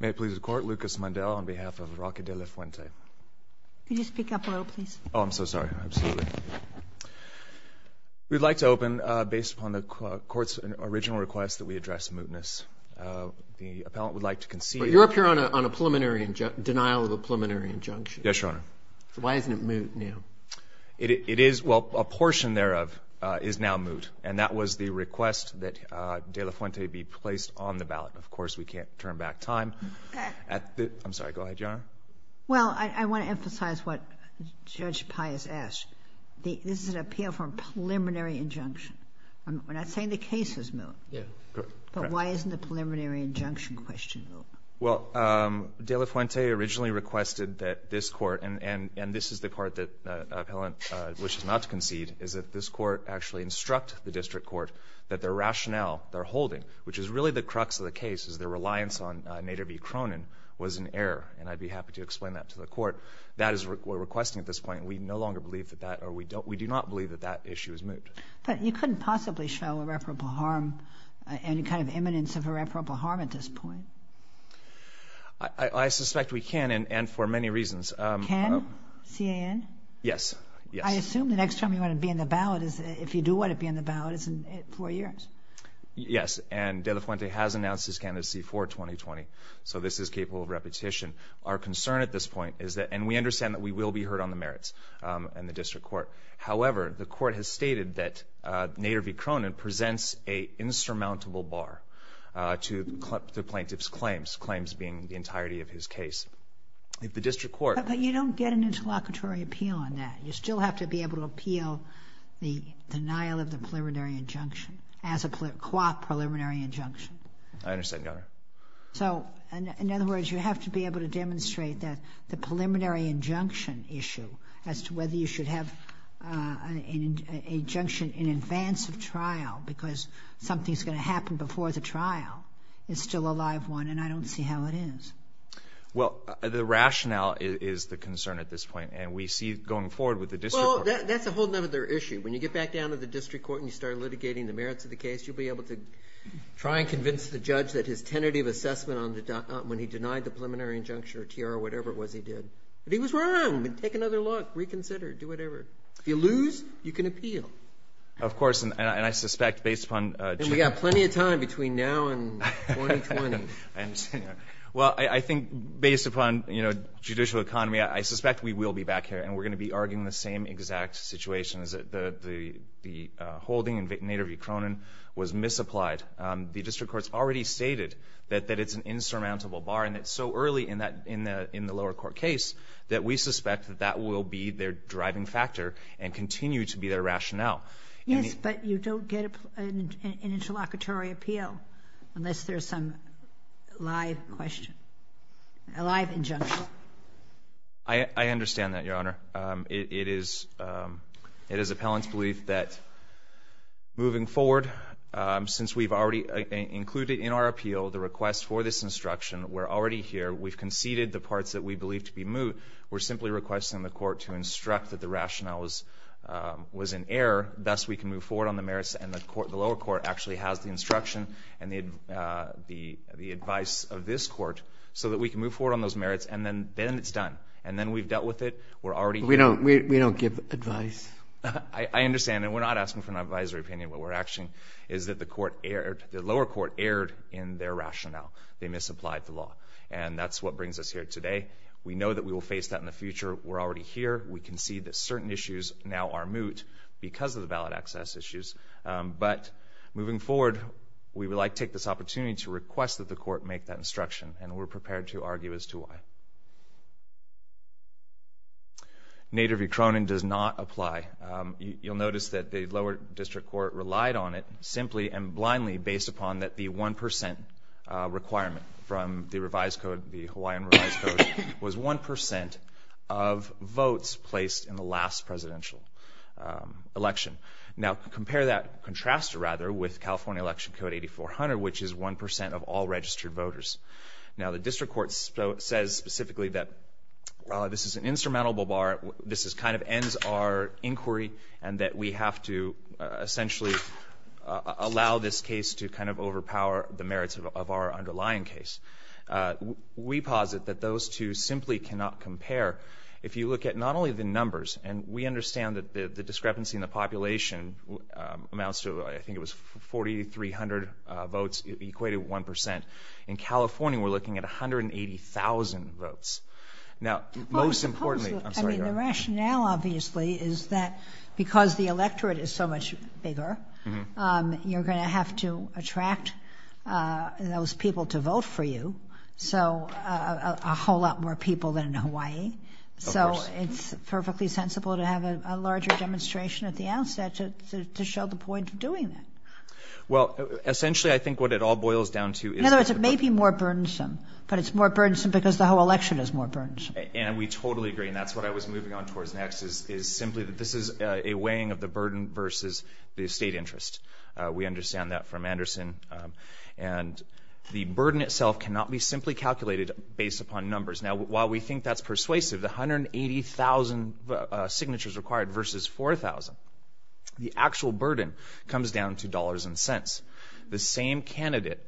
May it please the Court, Lucas Mundell on behalf of Roque De La Fuente. Could you speak up a little, please? Oh, I'm so sorry. Absolutely. We'd like to open based upon the Court's original request that we address mootness. The appellant would like to concede— But you're up here on a preliminary—denial of a preliminary injunction. Yes, Your Honor. So why isn't it moot now? It is—well, a portion thereof is now moot, and that was the request that De La Fuente be placed on the ballot. Of course, we can't turn back time. I'm sorry. Go ahead, Your Honor. Well, I want to emphasize what Judge Pius asked. This is an appeal for a preliminary injunction. We're not saying the case is moot. Yeah. Correct. But why isn't the preliminary injunction question moot? Well, De La Fuente originally requested that this Court, and this is the Court that the appellant wishes not to concede, is that this Court actually instruct the district court that the rationale they're holding, which is really the crux of the case is their reliance on Nader v. Cronin, was in error. And I'd be happy to explain that to the Court. That is what we're requesting at this point. We no longer believe that that—or we do not believe that that issue is moot. But you couldn't possibly show irreparable harm, any kind of imminence of irreparable harm at this point. I suspect we can, and for many reasons. Can? C-A-N? Yes. Yes. I assume the next time you want to be in the ballot is— if you do want to be in the ballot, it's in four years. Yes, and De La Fuente has announced his candidacy for 2020. So this is capable of repetition. Our concern at this point is that—and we understand that we will be heard on the merits in the district court. However, the Court has stated that Nader v. Cronin presents an insurmountable bar to the plaintiff's claims, claims being the entirety of his case. If the district court— But you don't get an interlocutory appeal on that. You still have to be able to appeal the denial of the preliminary injunction as a co-op preliminary injunction. I understand, Your Honor. So, in other words, you have to be able to demonstrate that the preliminary injunction issue as to whether you should have an injunction in advance of trial because something's going to happen before the trial is still a live one, and I don't see how it is. Well, the rationale is the concern at this point. And we see going forward with the district court— Well, that's a whole other issue. When you get back down to the district court and you start litigating the merits of the case, you'll be able to try and convince the judge that his tentative assessment on the— when he denied the preliminary injunction or T.R. or whatever it was he did. But he was wrong. Take another look. Reconsider. Do whatever. If you lose, you can appeal. Of course, and I suspect based upon— And we've got plenty of time between now and 2020. Well, I think based upon, you know, judicial economy, I suspect we will be back here and we're going to be arguing the same exact situation, is that the holding in Nader v. Cronin was misapplied. The district court's already stated that it's an insurmountable bar, and it's so early in the lower court case that we suspect that that will be their driving factor and continue to be their rationale. Yes, but you don't get an interlocutory appeal unless there's some live question, alive injunction. I understand that, Your Honor. It is appellant's belief that moving forward, since we've already included in our appeal the request for this instruction, we're already here. We've conceded the parts that we believe to be moot. We're simply requesting the court to instruct that the rationale was in error, thus we can move forward on the merits. And the lower court actually has the instruction and the advice of this court so that we can move forward on those merits, and then it's done. And then we've dealt with it. We're already here. We don't give advice. I understand, and we're not asking for an advisory opinion. What we're asking is that the lower court erred in their rationale. They misapplied the law. And that's what brings us here today. We know that we will face that in the future. We're already here. We concede that certain issues now are moot because of the ballot access issues. But moving forward, we would like to take this opportunity to request that the court make that instruction, and we're prepared to argue as to why. Nader v. Cronin does not apply. You'll notice that the lower district court relied on it simply and blindly based upon that the 1% requirement from the revised code, the Hawaiian revised code, was 1% of votes placed in the last presidential election. Now, compare that, contrast it rather, with California Election Code 8400, which is 1% of all registered voters. Now, the district court says specifically that this is an insurmountable bar, this kind of ends our inquiry, and that we have to essentially allow this case to kind of overpower the merits of our underlying case. We posit that those two simply cannot compare. If you look at not only the numbers, and we understand that the discrepancy in the population amounts to, I think it was 4,300 votes equated with 1%. In California, we're looking at 180,000 votes. Now, most importantly, I'm sorry, Your Honor. The rationale, obviously, is that because the electorate is so much bigger, you're going to have to attract those people to vote for you, so a whole lot more people than in Hawaii. Of course. So it's perfectly sensible to have a larger demonstration at the outset to show the point of doing that. Well, essentially, I think what it all boils down to is the fact that the population has more burdens. And we totally agree, and that's what I was moving on towards next, is simply that this is a weighing of the burden versus the state interest. We understand that from Anderson. And the burden itself cannot be simply calculated based upon numbers. Now, while we think that's persuasive, the 180,000 signatures required versus 4,000, the actual burden comes down to dollars and cents. The same candidate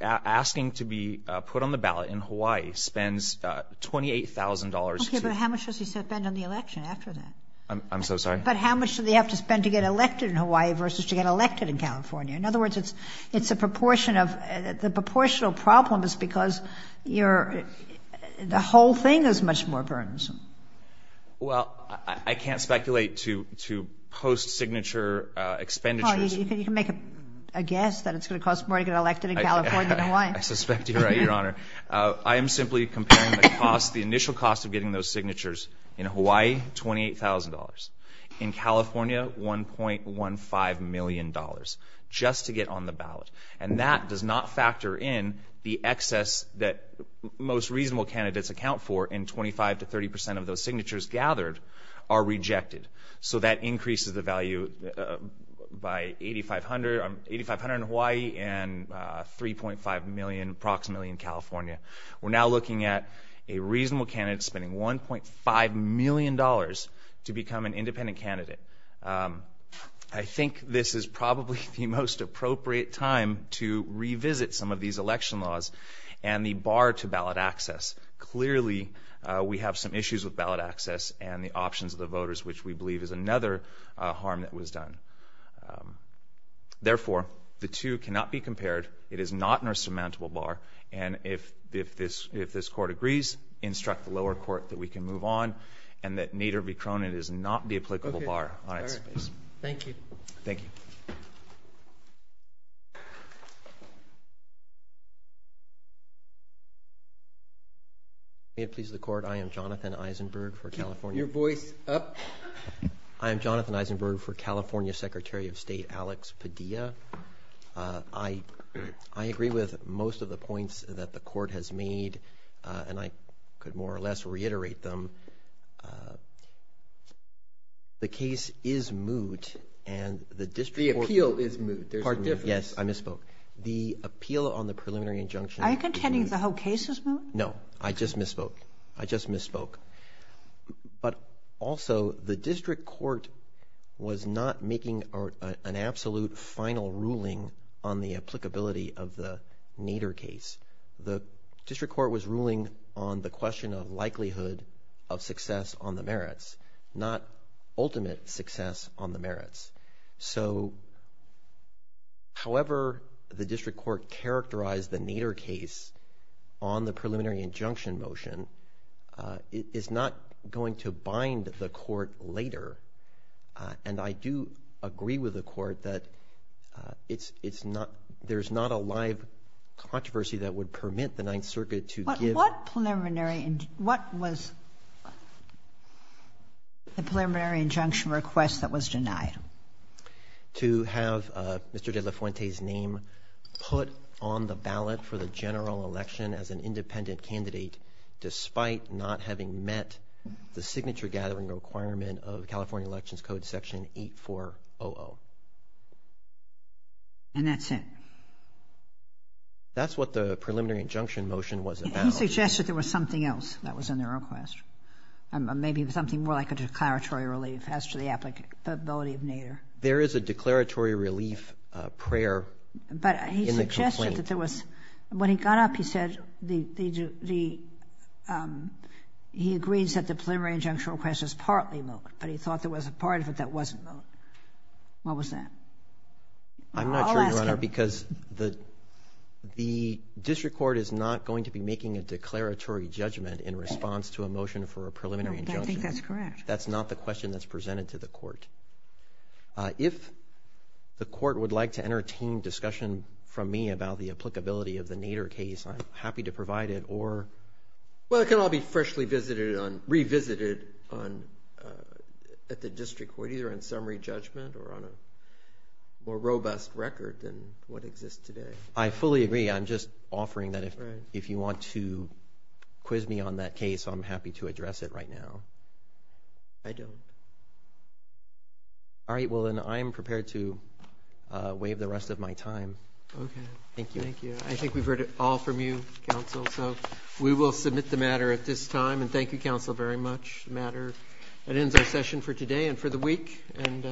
asking to be put on the ballot in Hawaii spends $28,000. Okay, but how much does he spend on the election after that? I'm so sorry? But how much do they have to spend to get elected in Hawaii versus to get elected in California? In other words, it's a proportion of the proportional problem is because you're the whole thing is much more burdensome. Well, I can't speculate to post-signature expenditures. Well, you can make a guess that it's going to cost more to get elected in California than in Hawaii. I suspect you're right, Your Honor. I am simply comparing the cost, the initial cost of getting those signatures in Hawaii, $28,000. In California, $1.15 million just to get on the ballot. And that does not factor in the excess that most reasonable candidates account for, and 25 to 30 percent of those signatures gathered are rejected. So that increases the value by 8,500 in Hawaii and 3.5 million approximately in California. We're now looking at a reasonable candidate spending $1.5 million to become an independent candidate. I think this is probably the most appropriate time to revisit some of these election laws and the bar to ballot access. Clearly, we have some issues with ballot access and the options of the voters, which we believe is another harm that was done. Therefore, the two cannot be compared. It is not in our surmountable bar, and if this court agrees, instruct the lower court that we can move on and that Nader v. Cronin is not the applicable bar on its case. Thank you. Thank you. May it please the Court. I am Jonathan Eisenberg for California. Your voice up. I am Jonathan Eisenberg for California Secretary of State Alex Padilla. I agree with most of the points that the Court has made, and I could more or less reiterate them. The case is moot, and the district court ---- The appeal is moot. Yes, I misspoke. The appeal on the preliminary injunction ---- Are you contending the whole case is moot? No. I just misspoke. I just misspoke. But also, the district court was not making an absolute final ruling on the applicability of the Nader case. The district court was ruling on the question of likelihood of success on the merits, not ultimate success on the merits. So however the district court characterized the Nader case on the preliminary injunction motion is not going to bind the Court later. And I do agree with the Court that it's not ---- there's not a live controversy that would permit the Ninth Circuit to give ---- to have Mr. De La Fuente's name put on the ballot for the general election as an independent candidate, despite not having met the signature gathering requirement of California Elections Code Section 8400. And that's it? That's what the preliminary injunction motion was about. He suggested there was something else that was in the request, maybe something more like a declaratory relief as to the applicability of Nader. There is a declaratory relief prayer in the complaint. But he suggested that there was ---- when he got up, he said the ---- he agrees that the preliminary injunction request was partly moot, but he thought there was a part of it that wasn't moot. What was that? I'll ask him. Thank you, Your Honor, because the district court is not going to be making a declaratory judgment in response to a motion for a preliminary injunction. No, I think that's correct. That's not the question that's presented to the Court. If the Court would like to entertain discussion from me about the applicability of the Nader case, I'm happy to provide it or ---- Well, it can all be freshly visited on ---- revisited on ---- at the district court, either on summary judgment or on a more robust record than what exists today. I fully agree. I'm just offering that if you want to quiz me on that case, I'm happy to address it right now. I don't. All right. Well, then I am prepared to waive the rest of my time. Okay. Thank you. Thank you. I think we've heard it all from you, Counsel. So we will submit the matter at this time, and thank you, Counsel, very much. The matter ends our session for today and for the week, and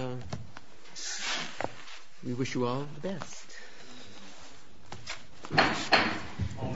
we wish you all the best. All rise.